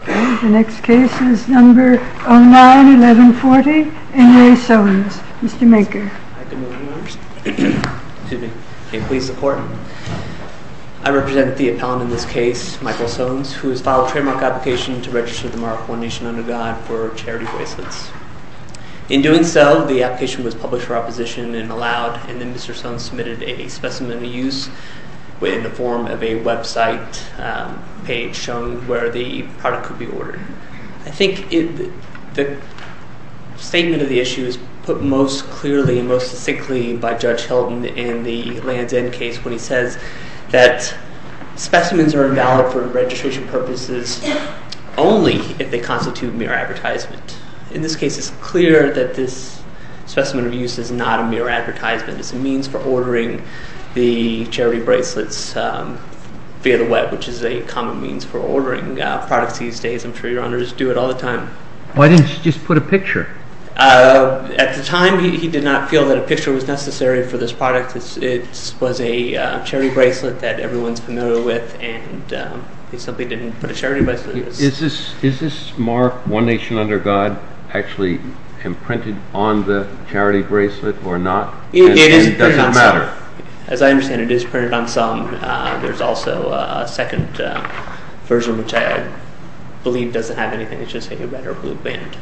Okay, the next case is number 09-1140, N. Ray Sones. Mr. Manker. Hi, good morning members. Excuse me. May it please the Court? I represent the appellant in this case, Michael Sones, who has filed a trademark application to register the Mark I Nation under God for charity bracelets. In doing so, the application was published for opposition and allowed, and then Mr. Sones submitted a specimen of use in the form of a website page showing where the product could be ordered. I think the statement of the issue is put most clearly and most succinctly by Judge Hilton in the Land's End case when he says that specimens are invalid for registration purposes only if they constitute mere advertisement. In this case, it's clear that this specimen of use is not a mere advertisement. It's a means for ordering the charity bracelets via the web, which is a common means for ordering products these days. I'm sure your honors do it all the time. Why didn't you just put a picture? At the time, he did not feel that a picture was necessary for this product. It was a charity bracelet that everyone's familiar with, and he simply didn't put a charity bracelet in it. Is this Mark I Nation under God actually imprinted on the charity bracelet or not? It is printed on some. As I understand it, it is printed on some. There's also a second version, which I believe doesn't have anything. It's just a red or blue band.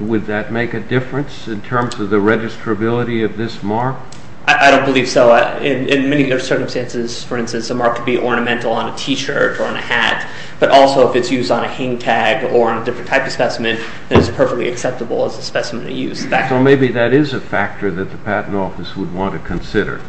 Would that make a difference in terms of the registrability of this Mark? I don't believe so. In many circumstances, for instance, a Mark could be ornamental on a t-shirt or on a hat, but also if it's used on a hang tag or on a different type of specimen, then it's perfectly acceptable as a specimen of use. So maybe that is a factor that the Patent Office would want to consider.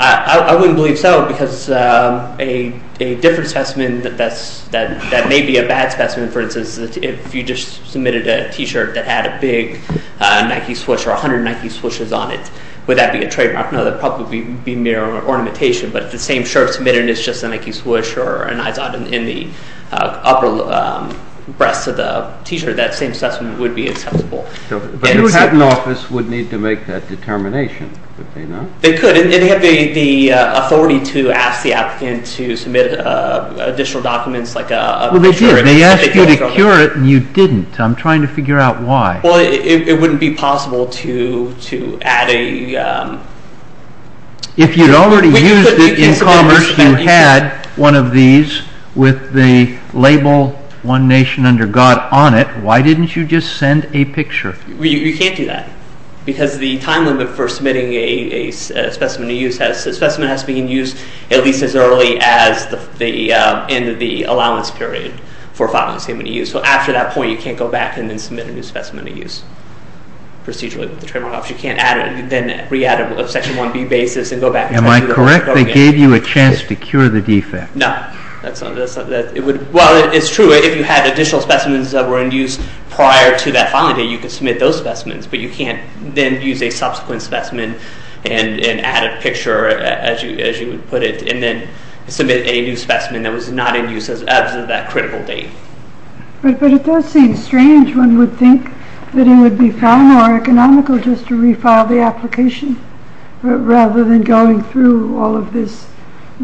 I wouldn't believe so because a different specimen that may be a bad specimen, for instance, if you just submitted a t-shirt that had a big Nike Swoosh or 100 Nike Swooshes on it, would that be a trademark? No, that would probably be mere ornamentation, but if the same shirt is submitted and it's just a Nike Swoosh or an IZOD in the upper breast of the t-shirt, that same specimen would be acceptable. But the Patent Office would need to make that determination, would they not? They could. They have the authority to ask the applicant to submit additional documents like a... Well, they did. They asked you to cure it and you didn't. I'm trying to figure out why. Well, it wouldn't be possible to add a... If you'd already used it in commerce, you had one of these with the label One Nation Under God on it, why didn't you just send a picture? You can't do that because the time limit for submitting a specimen to use has to be used at least as early as the end of the allowance period for following the specimen to use. So after that point, you can't go back and then submit a new specimen to use procedurally with the Trademark Office. You can't add it and then re-add it on a Section 1B basis and go back... Am I correct? They gave you a chance to cure the defect. No. Well, it's true. If you had additional specimens that were in use prior to that filing date, you could submit those specimens, but you can't then use a subsequent specimen and add a picture, as you would put it, and then submit a new specimen that was not in use as of that critical date. But it does seem strange. One would think that it would be far more economical just to refile the application rather than going through all of this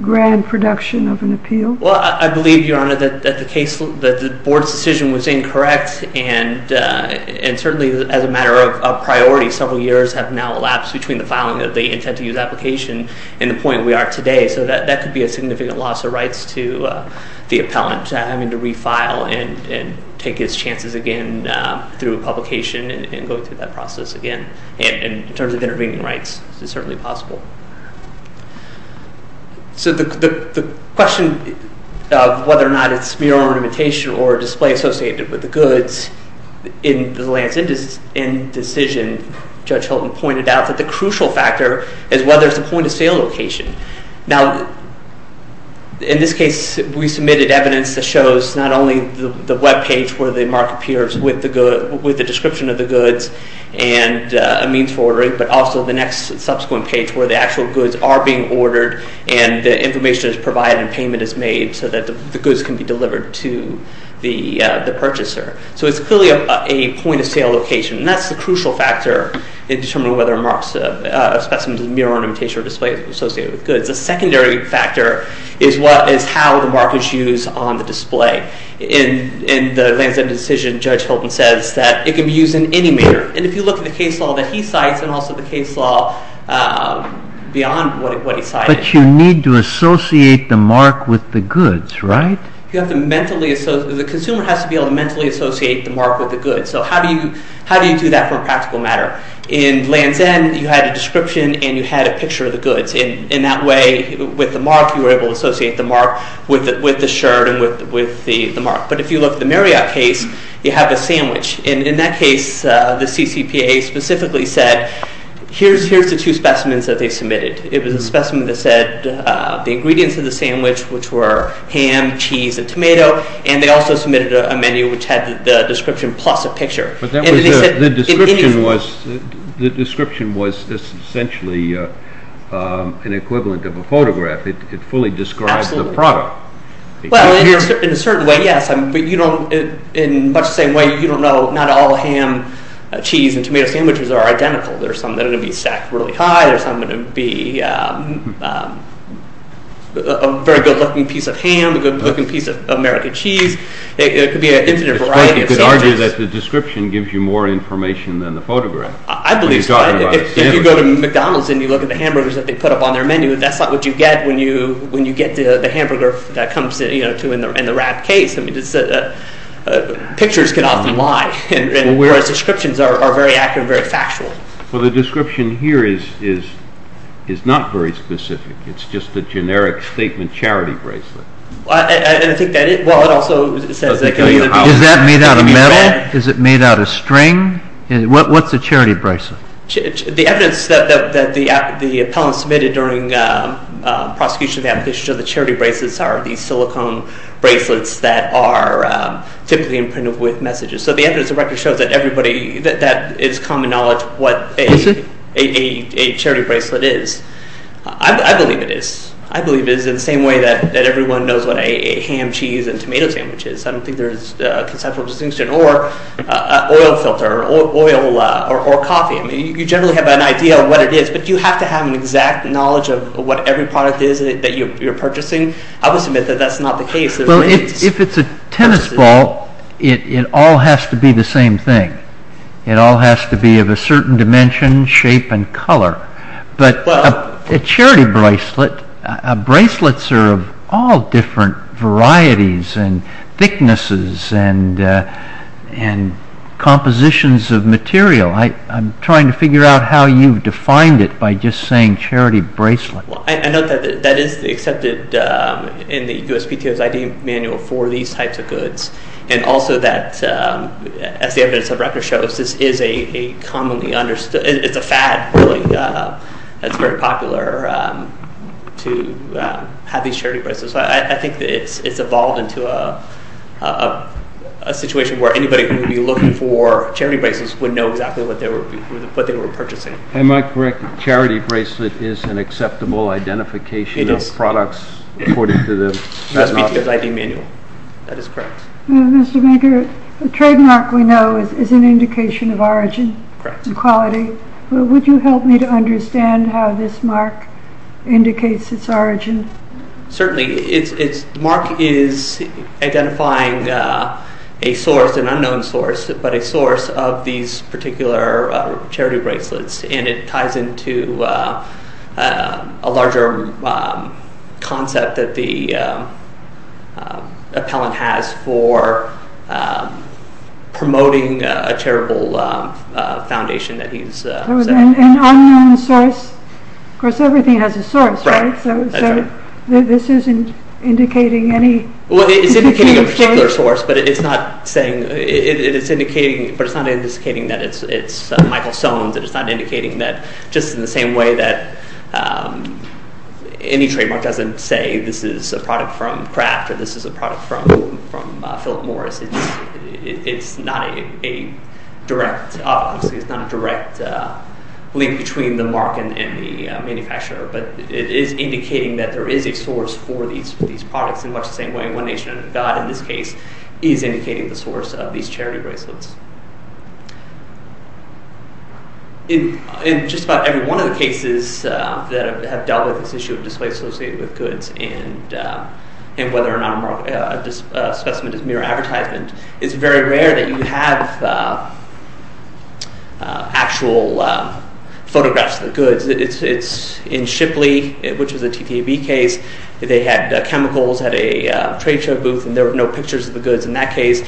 grand production of an appeal. Well, I believe, Your Honor, that the Board's decision was incorrect and certainly, as a matter of priority, several years have now elapsed between the filing of the intent-to-use application and the point we are at today. So that could be a significant loss of rights to the appellant, having to refile and take his chances again through a publication and going through that process again. And in terms of intervening rights, it's certainly possible. So the question of whether or not it's mere ornamentation or a display associated with the goods, in the Lance Inn decision, Judge Hilton pointed out that the crucial factor is whether it's a point-of-sale location. Now, in this case, we submitted evidence that shows not only the webpage where the mark appears with the description of the goods and a means for ordering, but also the next subsequent page where the actual goods are being ordered and the information is provided and payment is made so that the goods can be delivered to the purchaser. So it's clearly a point-of-sale location. And that's the crucial factor in determining whether a specimen is a mere ornamentation or a display associated with goods. The secondary factor is how the mark is used on the display. In the Lance Inn decision, Judge Hilton says that it can be used in any manner. And if you look at the case law that he cites and also the case law beyond what he cited... But you need to associate the mark with the goods, right? The consumer has to be able to mentally associate the mark with the goods. So how do you do that for a practical matter? In Lance Inn, you had a description and you had a picture of the goods. In that way, with the mark, you were able to associate the mark with the shirt and with the mark. But if you look at the Marriott case, you have a sandwich. In that case, the CCPA specifically said, here's the two specimens that they submitted. It was a specimen that said the ingredients of the sandwich, which were ham, cheese, and tomato. And they also submitted a menu which had the description plus a picture. But the description was essentially an equivalent of a photograph. It fully described the product. Well, in a certain way, yes. But in much the same way, you don't know not all ham, cheese, and tomato sandwiches are identical. There are some that are going to be stacked really high. There are some that are going to be a very good-looking piece of ham, a good-looking piece of American cheese. It could be an infinite variety of sandwiches. You could argue that the description gives you more information than the photograph. I believe so. If you go to McDonald's and you look at the hamburgers that they put up on their menu, that's not what you get when you get the hamburger that comes in the rat case. Pictures can often lie. Whereas descriptions are very accurate and very factual. Well, the description here is not very specific. It's just a generic statement charity bracelet. Well, it also says that Is that made out of metal? Is it made out of string? What's a charity bracelet? The evidence that the appellant submitted during the prosecution of the charity bracelets are these silicone bracelets that are typically imprinted with messages. So the evidence of record shows that it's common knowledge what a charity bracelet is. I believe it is. I believe it is in the same way that everyone knows what a ham, cheese and tomato sandwich is. I don't think there's a conceptual distinction. Or an oil filter or coffee. You generally have an idea of what it is, but you have to have an exact knowledge of what every product is that you're purchasing. I would submit that that's not the case. Well, if it's a tennis ball it all has to be the same thing. It all has to be of a certain dimension, shape and color. But a charity bracelet bracelets are of all different varieties and thicknesses and compositions of material. I'm trying to figure out how you've defined it by just saying charity bracelet. That is accepted in the USPTO's ID manual for these types of goods. And also that as the evidence of record shows this is a commonly understood it's a fad that's very popular to have these charity bracelets. I think it's evolved into a situation where anybody who would be looking for charity bracelets would know exactly what they were purchasing. Am I correct that charity bracelet is an acceptable identification of products according to the USPTO's ID manual? That is correct. Mr. Baker the trademark we know is an indication of origin and quality. Would you help me to understand how this mark indicates its origin? Certainly. The mark is identifying a source, an unknown source but a source of these particular charity bracelets. And it ties into a larger concept that the appellant has for promoting a charitable foundation that he's said. An unknown source of course everything has a source right? So this isn't indicating any Well it's indicating a particular source but it's not indicating that it's Michael Soans. It's not indicating that just in the same way that any trademark doesn't say this is a product from Kraft or this is a product from Philip Morris. It's not a direct link between the mark and the manufacturer. It is indicating that there is a source for these products in much the same way One Nation and God in this case is indicating the source of these charity bracelets. In just about every one of the cases that have dealt with this issue of display associated with goods and whether or not a specimen is mere advertisement it's very rare that you have actual photographs of the goods. It's in Shipley which is a TTAB case They had chemicals at a trade show booth and there were no pictures of the goods in that case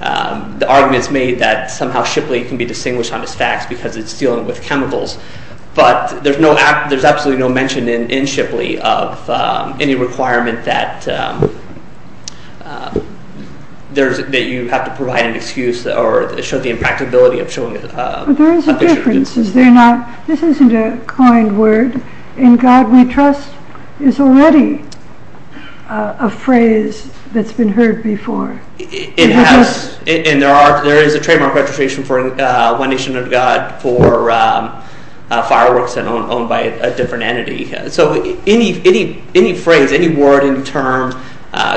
the argument is made that somehow Shipley can be distinguished on its facts because it's dealing with chemicals but there's no there's absolutely no mention in Shipley of any requirement that that you have to provide an excuse or show the impracticability of showing a picture of goods. This isn't a coined word and God we trust is already a phrase that's been heard before and there is a trademark registration for One Nation and God for fireworks owned by a different entity so any phrase any word, any term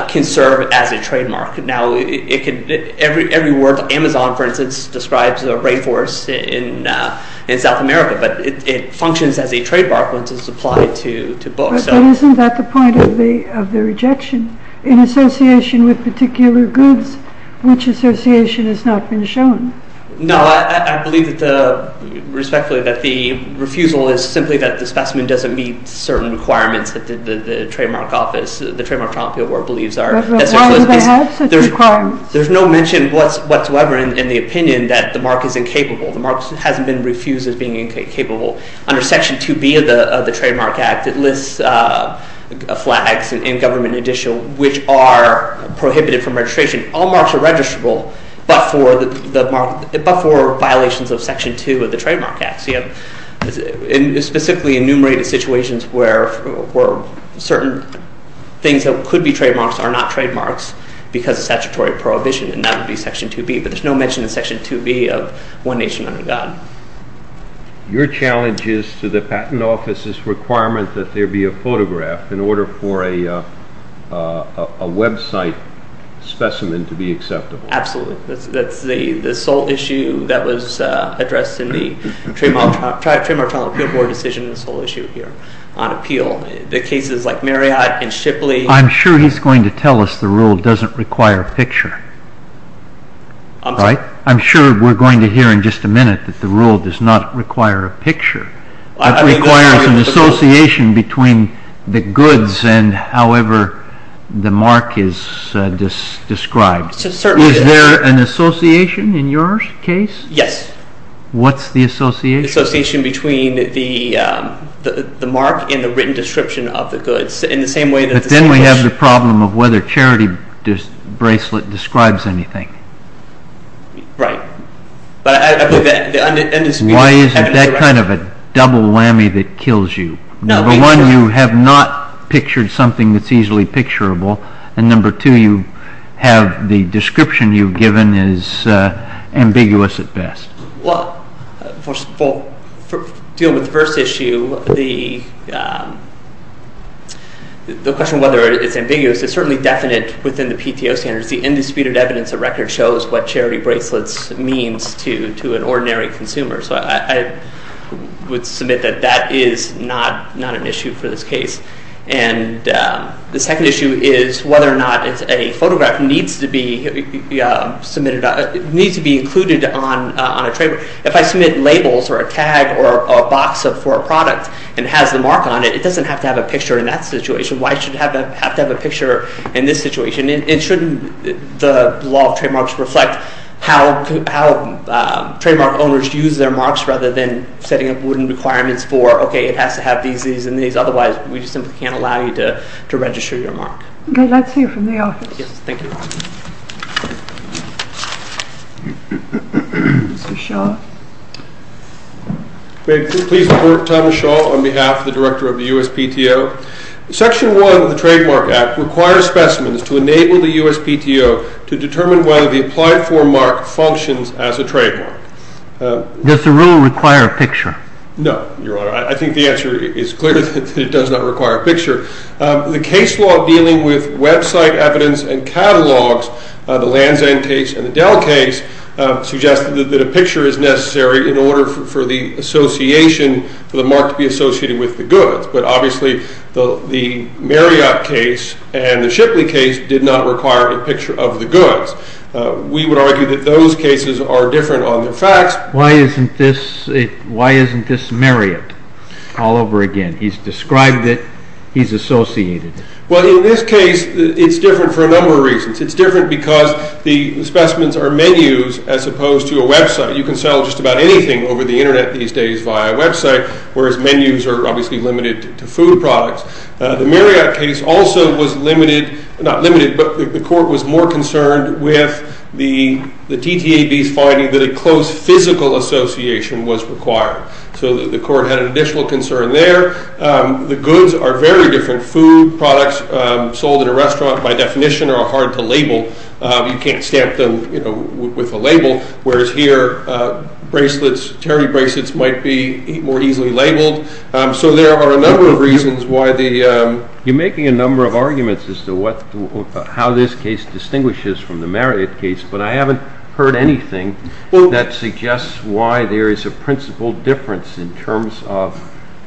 can serve as a trademark now every word Amazon for instance describes a rainforest in South America but it functions as a trademark when it's applied to books But isn't that the point of the rejection in association with particular goods which association has not been shown No, I believe that respectfully that the refusal is simply that the specimen doesn't meet certain requirements that the trademark office, the Trademark Trial Appeal Board believes are Why do they have such requirements? There's no mention whatsoever in the opinion that the mark is incapable the mark hasn't been refused as being incapable under section 2B of the Trademark Act it lists flags in government edition which are prohibited from registration all marks are registrable but for violations of section 2 of the Trademark Act specifically enumerated situations where certain things that could be trademarks are not trademarks because of statutory prohibition and that would be section 2B but there's no mention in section 2B of One Nation and God Your challenge is to the Patent Office's requirement that there be a photograph in order for a website specimen to be acceptable Absolutely, that's the sole issue that was addressed in the Trademark Trial Appeal Board decision the sole issue here on appeal the cases like Marriott and Shipley I'm sure he's going to tell us the rule doesn't require a picture I'm sorry I'm going to hear in just a minute that the rule does not require a picture it requires an association between the goods and however the mark is described Is there an association in your case? Yes What's the association? The association between the mark and the written description of the goods in the same way But then we have the problem of whether charity bracelet describes anything Right But I believe that Why is it that kind of a double whammy that kills you? Number one you have not pictured something that's easily picturable and number two you have the description you've given is ambiguous at best Well, for dealing with the first issue the the question whether it's ambiguous is certainly definite within the PTO standards because the indisputed evidence of record shows what charity bracelets means to an ordinary consumer so I would submit that that is not an issue for this case and the second issue is whether or not a photograph needs to be submitted needs to be included on a trademark if I submit labels or a tag or a box for a product and has the mark on it, it doesn't have to have a picture in that situation why should it have to have a picture in this situation? It shouldn't the law of trademarks reflect how trademark owners use their marks rather than setting up wooden requirements for okay it has to have these, these and these otherwise we simply can't allow you to register your mark Okay, that's it from the office Mr. Shaw May I please defer to Thomas Shaw on behalf of the director of the USPTO Section 1 of the Trademark Act requires specimens to enable the USPTO to determine whether the applied form mark functions as a trademark Does the rule require a picture? No, your honor I think the answer is clear that it does not require a picture The case law dealing with website evidence and catalogs, the Lanzane case and the Dell case suggested that a picture is necessary in order for the association for the mark to be associated with the goods but obviously the Marriott case and the Shipley case did not require a picture of the goods We would argue that those cases are different on their facts Why isn't this why isn't this Marriott all over again? He's described it he's associated Well in this case it's different for a number of reasons It's different because the specimens are menus as opposed to a website. You can sell just about anything over the internet these days via a website whereas menus are obviously limited to food products The Marriott case also was limited not limited but the court was more concerned with the TTAB's finding that a close physical association was required so the court had an additional concern there. The goods are very different. Food products sold in a restaurant by definition are hard to label. You can't stamp them with a label whereas here Terry bracelets might be more easily labeled so there are a number of reasons You're making a number of arguments as to how this case distinguishes from the Marriott case but I haven't heard anything that suggests why there is a principal difference in terms of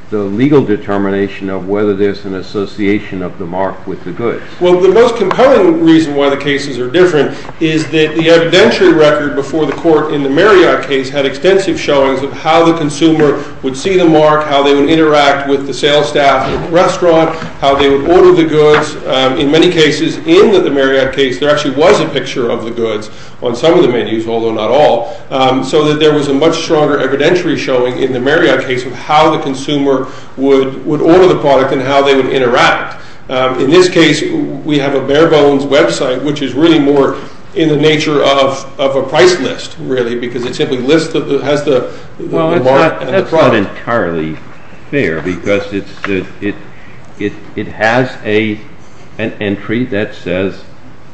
the legal determination of whether there's an association of the mark with the goods. Well the most compelling reason why the cases are different is that the evidentiary record before the court in the Marriott case had extensive showings of how the consumer would see the mark, how they would interact with the sales staff at the restaurant how they would order the goods in many cases in the Marriott case there actually was a picture of the goods on some of the menus although not all so that there was a much stronger evidentiary showing in the Marriott case of how the consumer would order the product and how they would interact In this case we have a bare bones website which is really more in the nature of a price list really because it simply lists Well that's not entirely fair because it has an entry that says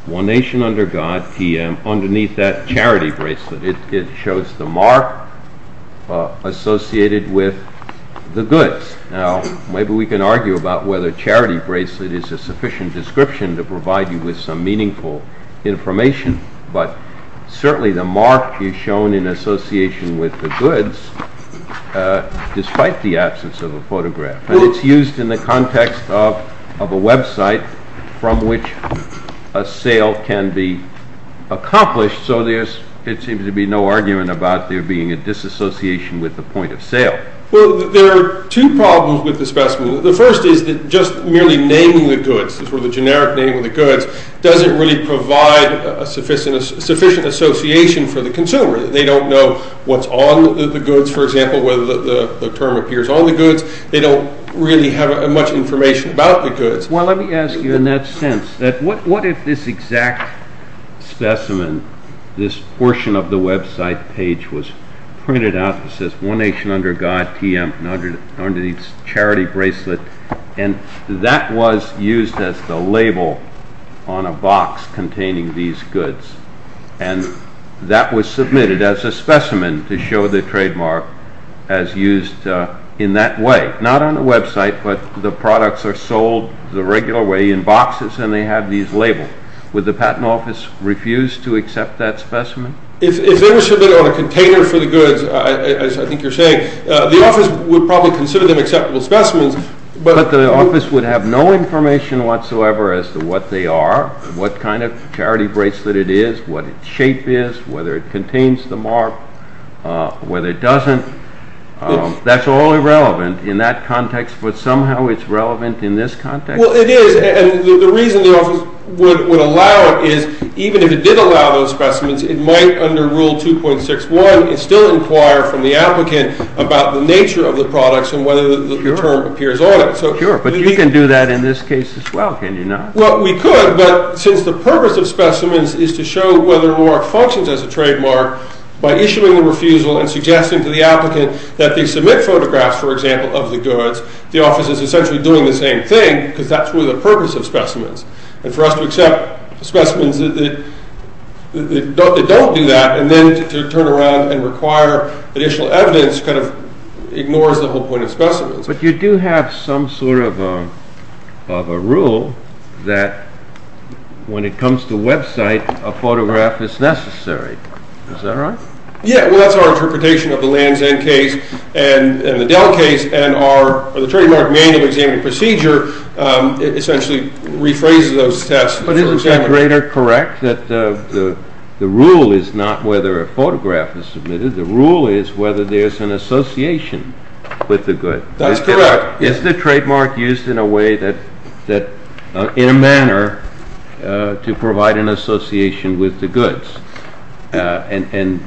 One Nation Under God PM underneath that charity bracelet it shows the mark associated with the goods now maybe we can argue about whether charity bracelet is a meaningful information but certainly the mark is shown in association with the goods despite the absence of a photograph and it's used in the context of a website from which a sale can be accomplished so there seems to be no argument about there being a disassociation with the point of sale. Well there are two problems with the specimen. The first is that just merely naming the goods the generic name of the goods doesn't really provide a sufficient association for the consumer they don't know what's on the goods for example whether the term appears on the goods. They don't really have much information about the goods. Well let me ask you in that sense that what if this exact specimen this portion of the website page was printed out that says One Nation Under God PM underneath charity bracelet and that was used as the label on a box containing these goods and that was submitted as a specimen to show the trademark as used in that way not on the website but the products are sold the regular way in boxes and they have these labels. Would the patent office refuse to accept that specimen? If they were submitted on a container for the goods as I think you're saying, the office would probably consider them acceptable specimens but the office would have no information whatsoever as to what they are what kind of charity bracelet it is, what its shape is, whether it contains the mark whether it doesn't that's all irrelevant in that context but somehow it's relevant in this context. Well it is and the reason the office would allow it is even if it did allow those specimens it might under rule 2.61 still inquire from the products and whether the term appears on it Sure, but you can do that in this case as well can you not? Well we could but since the purpose of specimens is to show whether or not it functions as a trademark by issuing the refusal and suggesting to the applicant that they submit photographs for example of the goods the office is essentially doing the same thing because that's where the purpose of specimens and for us to accept specimens that don't do that and then to turn around and require additional evidence kind of ignores the whole point of specimens. But you do have some sort of a rule that when it comes to website a photograph is necessary is that right? Yeah well that's our interpretation of the Lands End case and the Dell case and our trademark manual examining procedure rephrases those tests. But isn't that greater correct that the rule is not whether a photograph is submitted the rule is whether there's an association with the good. That's correct. Is the trademark used in a way that in a manner to provide an association with the goods and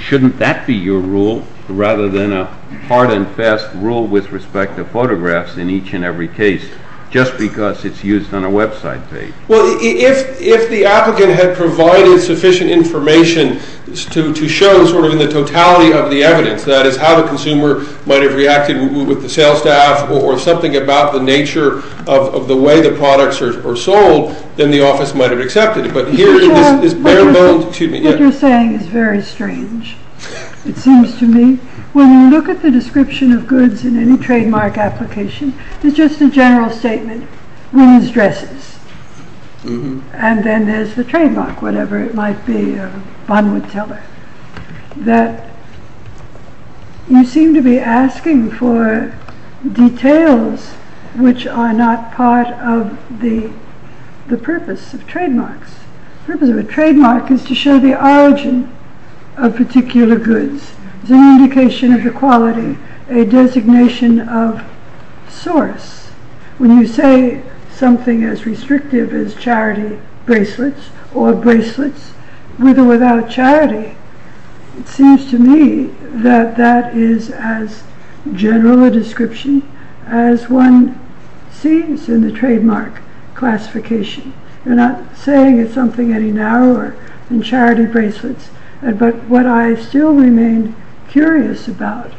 shouldn't that be your rule rather than a hard and fast rule with respect to photographs in each and every case just because it's used on a website page. Well if the applicant had provided sufficient information to show sort of in the totality of the evidence that is how the consumer might have reacted with the sales staff or something about the nature of the way the products are sold then the office might have accepted it. But here this is bare bones. What you're saying is very strange. It seems to me when you look at the description of goods in any trademark application it's just a general statement. Women's dresses and then there's the trademark. Whatever it might be a bond would tell her that you seem to be asking for details which are not part of the purpose of trademarks. The purpose of a trademark is to show the origin of particular goods as an indication of the quality a designation of source. When you say something as bracelets or bracelets with or without charity it seems to me that that is as general a description as one sees in the trademark classification. You're not saying it's something any narrower than charity bracelets but what I still remain curious about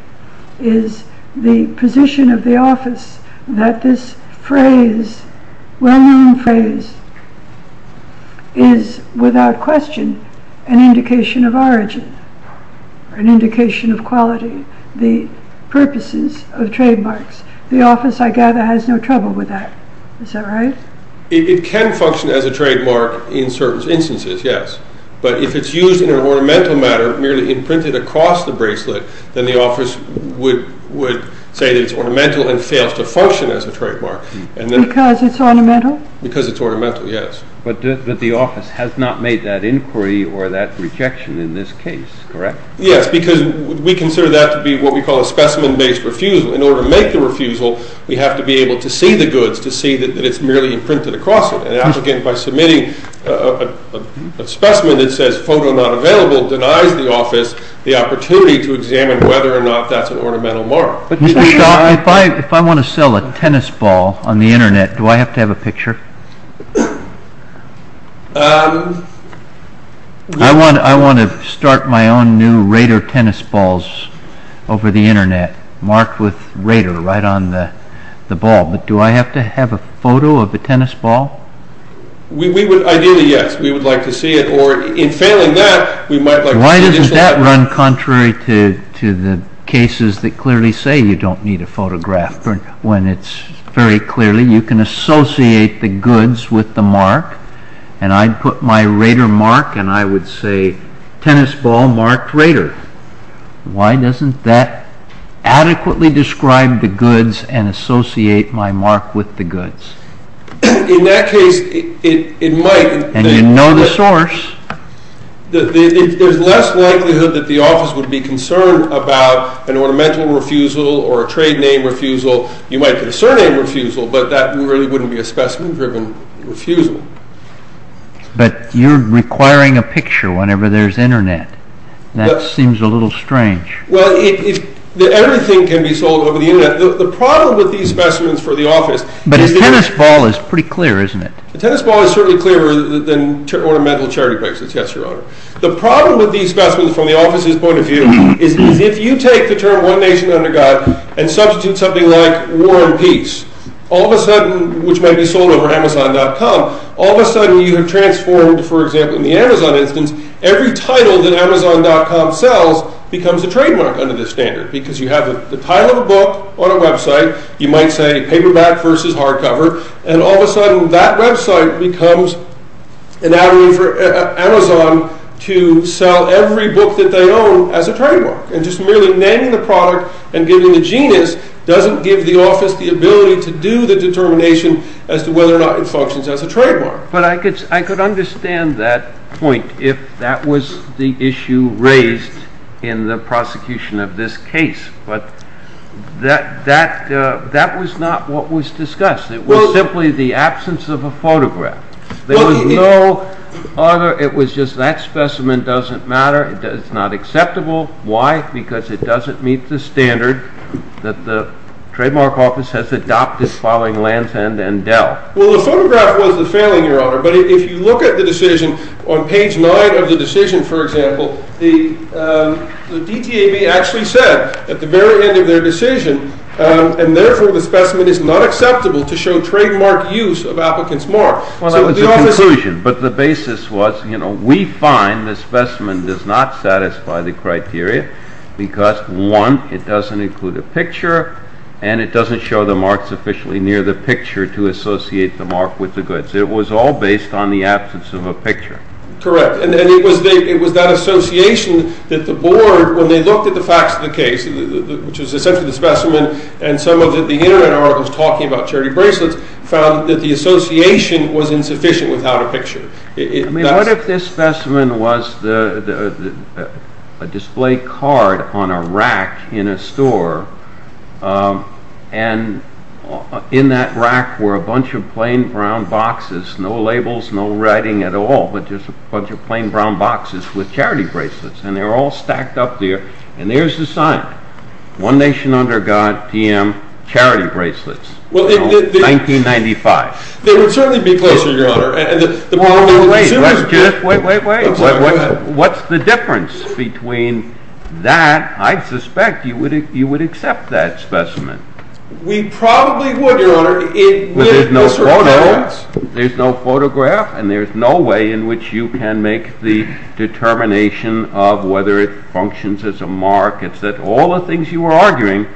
is the position of the office that this phrase, well known phrase is without question an indication of origin an indication of quality the purposes of trademarks. The office I gather has no trouble with that. Is that right? It can function as a trademark in certain instances yes, but if it's used in an ornamental manner merely imprinted across the bracelet then the office would say that it's ornamental and fails to function as a trademark. Because it's ornamental? Because it's ornamental, yes. But the office has not made that inquiry or that rejection in this case correct? Yes, because we consider that to be what we call a specimen based refusal in order to make the refusal we have to be able to see the goods to see that it's merely imprinted across it. An applicant by submitting a specimen that says photo not available denies the office the opportunity to examine whether or not that's an ornamental mark. If I want to sell a tennis ball on the internet do I have to have a picture? I want to start my own new Raider tennis balls over the internet marked with Raider right on the ball but do I have to have a photo of the tennis ball? Ideally yes, we would like to see it or in failing that Why doesn't that run contrary to the cases that clearly say you don't need a photograph when it's very clearly you can associate the goods with the mark and I'd put my Raider mark and I would say tennis ball marked Raider Why doesn't that adequately describe the goods and associate my mark with the goods? In that case it might And you know the source There's less likelihood that the office would be concerned about an ornamental refusal or a trade name refusal You might get a surname refusal but that really wouldn't be a specimen driven refusal But you're requiring a picture whenever there's internet That seems a little strange Everything can be sold over the internet The problem with these specimens for the office But a tennis ball is pretty clear isn't it? A tennis ball is certainly clearer than ornamental charity prices The problem with these specimens from the office's point of view is if you take the term One Nation Under God and substitute something like War and Peace which might be sold over Amazon.com all of a sudden you have transformed for example in the Amazon instance every title that Amazon.com sells becomes a trademark under this standard because you have the title of a book on a website, you might say paperback versus hardcover and all of a sudden that website becomes an avenue for Amazon to sell every book that they own as a trademark and just merely naming the product and giving the genus doesn't give the office the ability to do the determination as to whether or not it functions as a trademark But I could understand that point if that was the issue raised in the prosecution of this case but that was not what was discussed. It was simply the absence of a photograph. There was no other, it was just that specimen doesn't matter it's not acceptable. Why? Because it doesn't meet the standard that the Trademark Office has adopted following Land's End and Dell. Well the photograph was the failing Your Honor, but if you look at the decision on page 9 of the decision for example, the DTAB actually said at the very end of their decision and therefore the specimen is not It was a conclusion but the basis was, you know, we find the specimen does not satisfy the criteria because one, it doesn't include a picture and it doesn't show the marks officially near the picture to associate the mark with the goods. It was all based on the absence of a picture Correct, and it was that association that the board when they looked at the facts of the case which was essentially the specimen and some of the internet articles talking about charity bracelets, found that the association was insufficient without a picture I mean, what if this specimen was a display card on a rack in a store and in that rack were a bunch of plain brown boxes no labels, no writing at all but just a bunch of plain brown boxes with charity bracelets and they're all stacked up there and there's the sign One Nation Under God, PM charity bracelets 1995 They would certainly be closer, your honor Wait, wait, wait What's the difference between that I'd suspect you would accept that specimen We probably would, your honor There's no photograph and there's no way in which you can make the determination of whether it functions as a mark, it's that all the things you were arguing,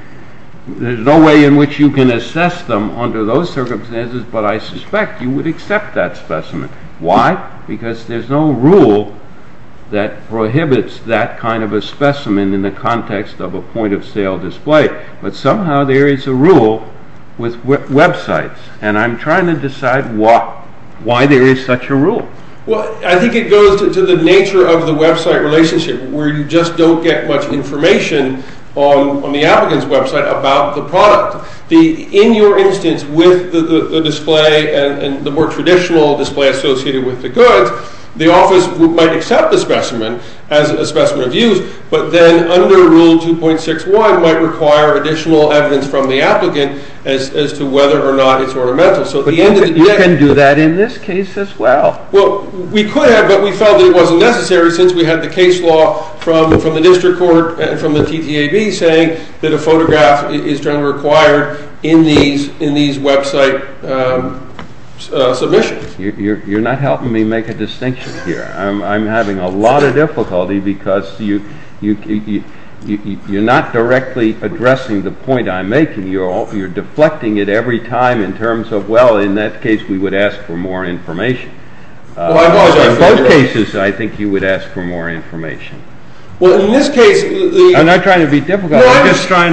there's no way in which you can assess them under those circumstances, but I suspect you would accept that specimen Why? Because there's no rule that prohibits that kind of a specimen in the context of a point of sale display but somehow there is a rule with websites and I'm trying to decide why there is such a rule I think it goes to the nature of the website relationship where you just don't get much information on the applicant's website about the product In your instance, with the display and the more traditional display associated with the goods, the office might accept the specimen as a specimen of use, but then under rule 2.61 might require additional evidence from the applicant as to whether or not it's ornamental But you can do that in this case as well. Well, we could have but we felt it wasn't necessary since we had the case law from the district court and from the TTAB saying that a photograph is generally required in these website submissions You're not helping me make a distinction here. I'm having a lot of difficulty because you're not directly addressing the point I'm making. You're deflecting it every time in terms of, well, in that case we would ask for more information In both Well, in this case I'm not trying to be difficult I'm just trying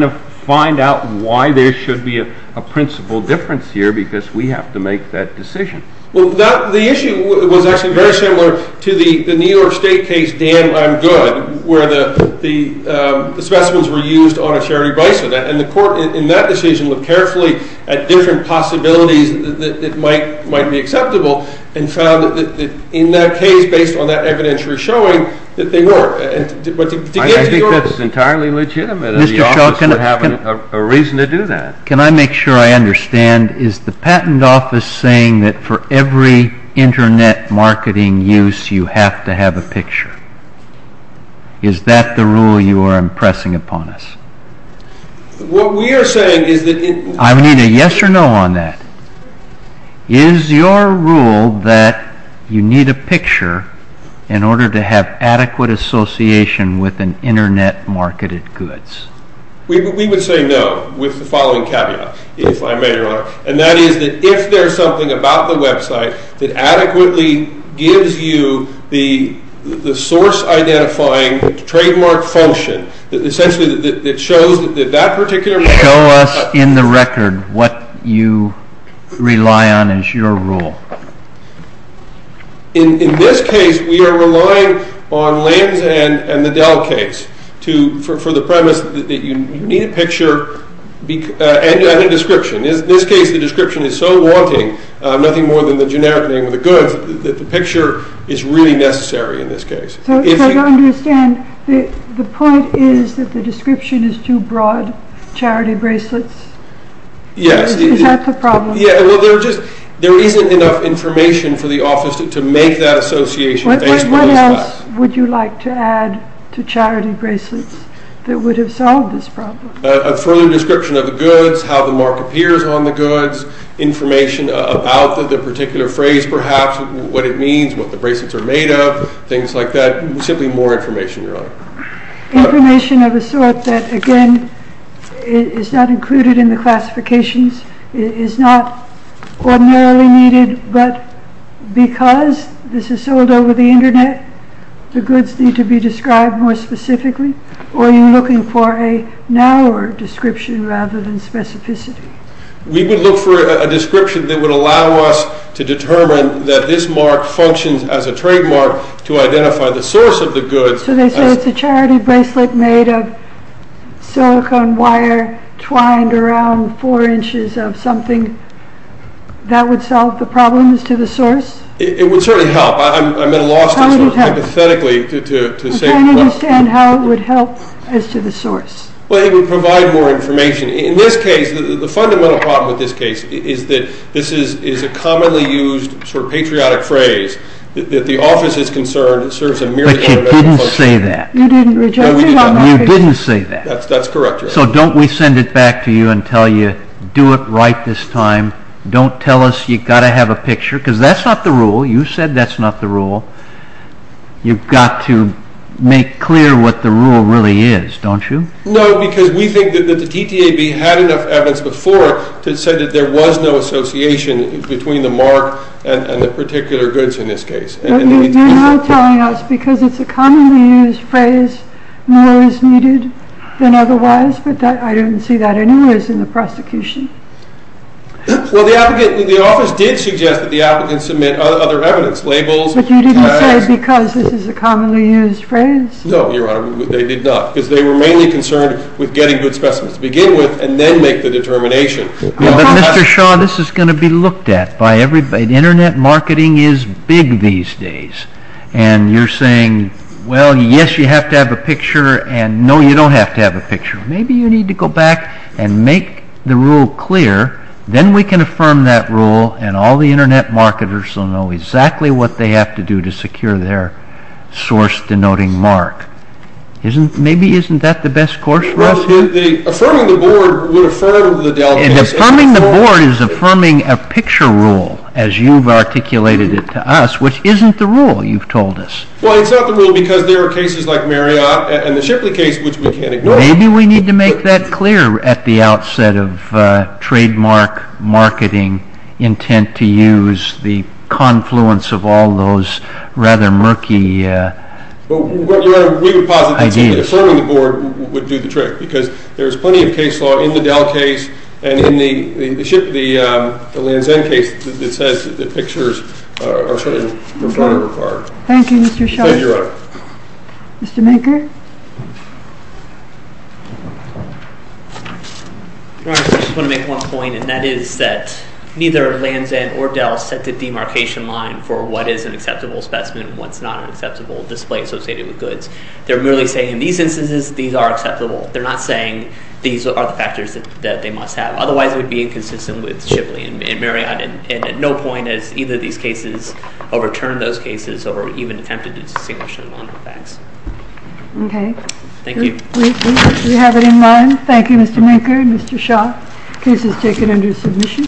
to find out why there should be a principle difference here because we have to make that decision. Well, the issue was actually very similar to the New York State case, Dan, I'm Good where the specimens were used on a Charity Bison and the court in that decision looked carefully at different possibilities that might be acceptable and found that in that case based on that evidentiary showing that they were I think that's entirely legitimate and the office would have a reason to do that Can I make sure I understand is the patent office saying that for every internet marketing use you have to have a picture Is that the rule you are impressing upon us? What we are saying is that I need a yes or no on that Is your rule that you need a picture in order to have adequate association with an internet marketed goods We would say no with the following caveat if I may your honor and that is that if there is something about the website that adequately gives you the source identifying trademark function that shows that that particular Show us in the record what you rely on is your rule In this case we are relying on Lanz and the Dell case for the premise that you need a picture and a description. In this case the description is so wanting, nothing more than the generic name of the goods, that the picture is really necessary in this case So to understand the point is that the description is too broad, charity bracelets Yes Is that the problem? There isn't enough information for the office to make that association What else would you like to add to charity bracelets that would have solved this problem? A further description of the goods, how the mark appears on the goods, information about the particular phrase perhaps, what it means, what the bracelets are made of, things like that simply more information your honor Information of a sort that again is not included in the classifications, is not ordinarily needed but because this is sold over the internet the goods need to be described more specifically, or are you looking for a narrower description rather than specificity We would look for a description that would allow us to determine that this mark functions as a trademark to identify the source of the goods So they say it's a charity bracelet made of silicone wire, twined around four inches of something that would solve the problems to the source? It would certainly help, I'm at a loss hypothetically to say I don't understand how it would help as to the source Well it would provide more information In this case, the fundamental problem with this case is that this is a commonly used patriotic phrase, that the office is concerned serves a merely You didn't say that So don't we send it back to you and tell you, do it right this time, don't tell us you've got to have a picture, because that's not the rule you said that's not the rule You've got to make clear what the rule really is don't you? No, because we think that the TTAB had enough evidence before to say that there was no association between the mark and the particular goods in this case You're not telling us because it's a commonly used phrase more is needed than otherwise, but I don't see that anyways in the prosecution Well the applicant, the office did suggest that the applicant submit other evidence, labels, tags But you didn't say because this is a commonly used phrase No, your honor, they did not because they were mainly concerned with getting good specimens to begin with, and then make the determination But Mr. Shaw, this is going to be looked at by everybody Internet marketing is big these days, and you're saying well yes you have to have a picture and no you don't have to have a picture maybe you need to go back and make the rule clear then we can affirm that rule and all the internet marketers will know exactly what they have to do to secure their source denoting mark Maybe isn't that the best course for us? Affirming the board would affirm the Affirming the board is affirming a picture rule, as you've articulated it to us, which isn't the rule you've told us. Well it's not the rule because there are cases like Marriott and the Shipley case which we can't ignore Maybe we need to make that clear at the outset of trademark marketing intent to use the confluence of all those rather murky ideas We would posit that simply affirming the board would do the trick, because there's plenty of case law in the Dell case and in the Lanzan case that says that pictures are required. Thank you Mr. Shaw. Mr. Maker Your Honor, I just want to make one point and that is that neither Lanzan or Dell set the demarcation line for what is an acceptable specimen and what's not an acceptable display associated with goods. They're merely saying in these instances these are acceptable. They're not saying these are the factors that they must have. Otherwise it would be inconsistent with Shipley and Marriott and at no point has either of these cases overturned those cases or even attempted to distinguish them on the facts. Okay. Thank you. We have it in line. Thank you Mr. Maker and Mr. Shaw. Case is taken under submission.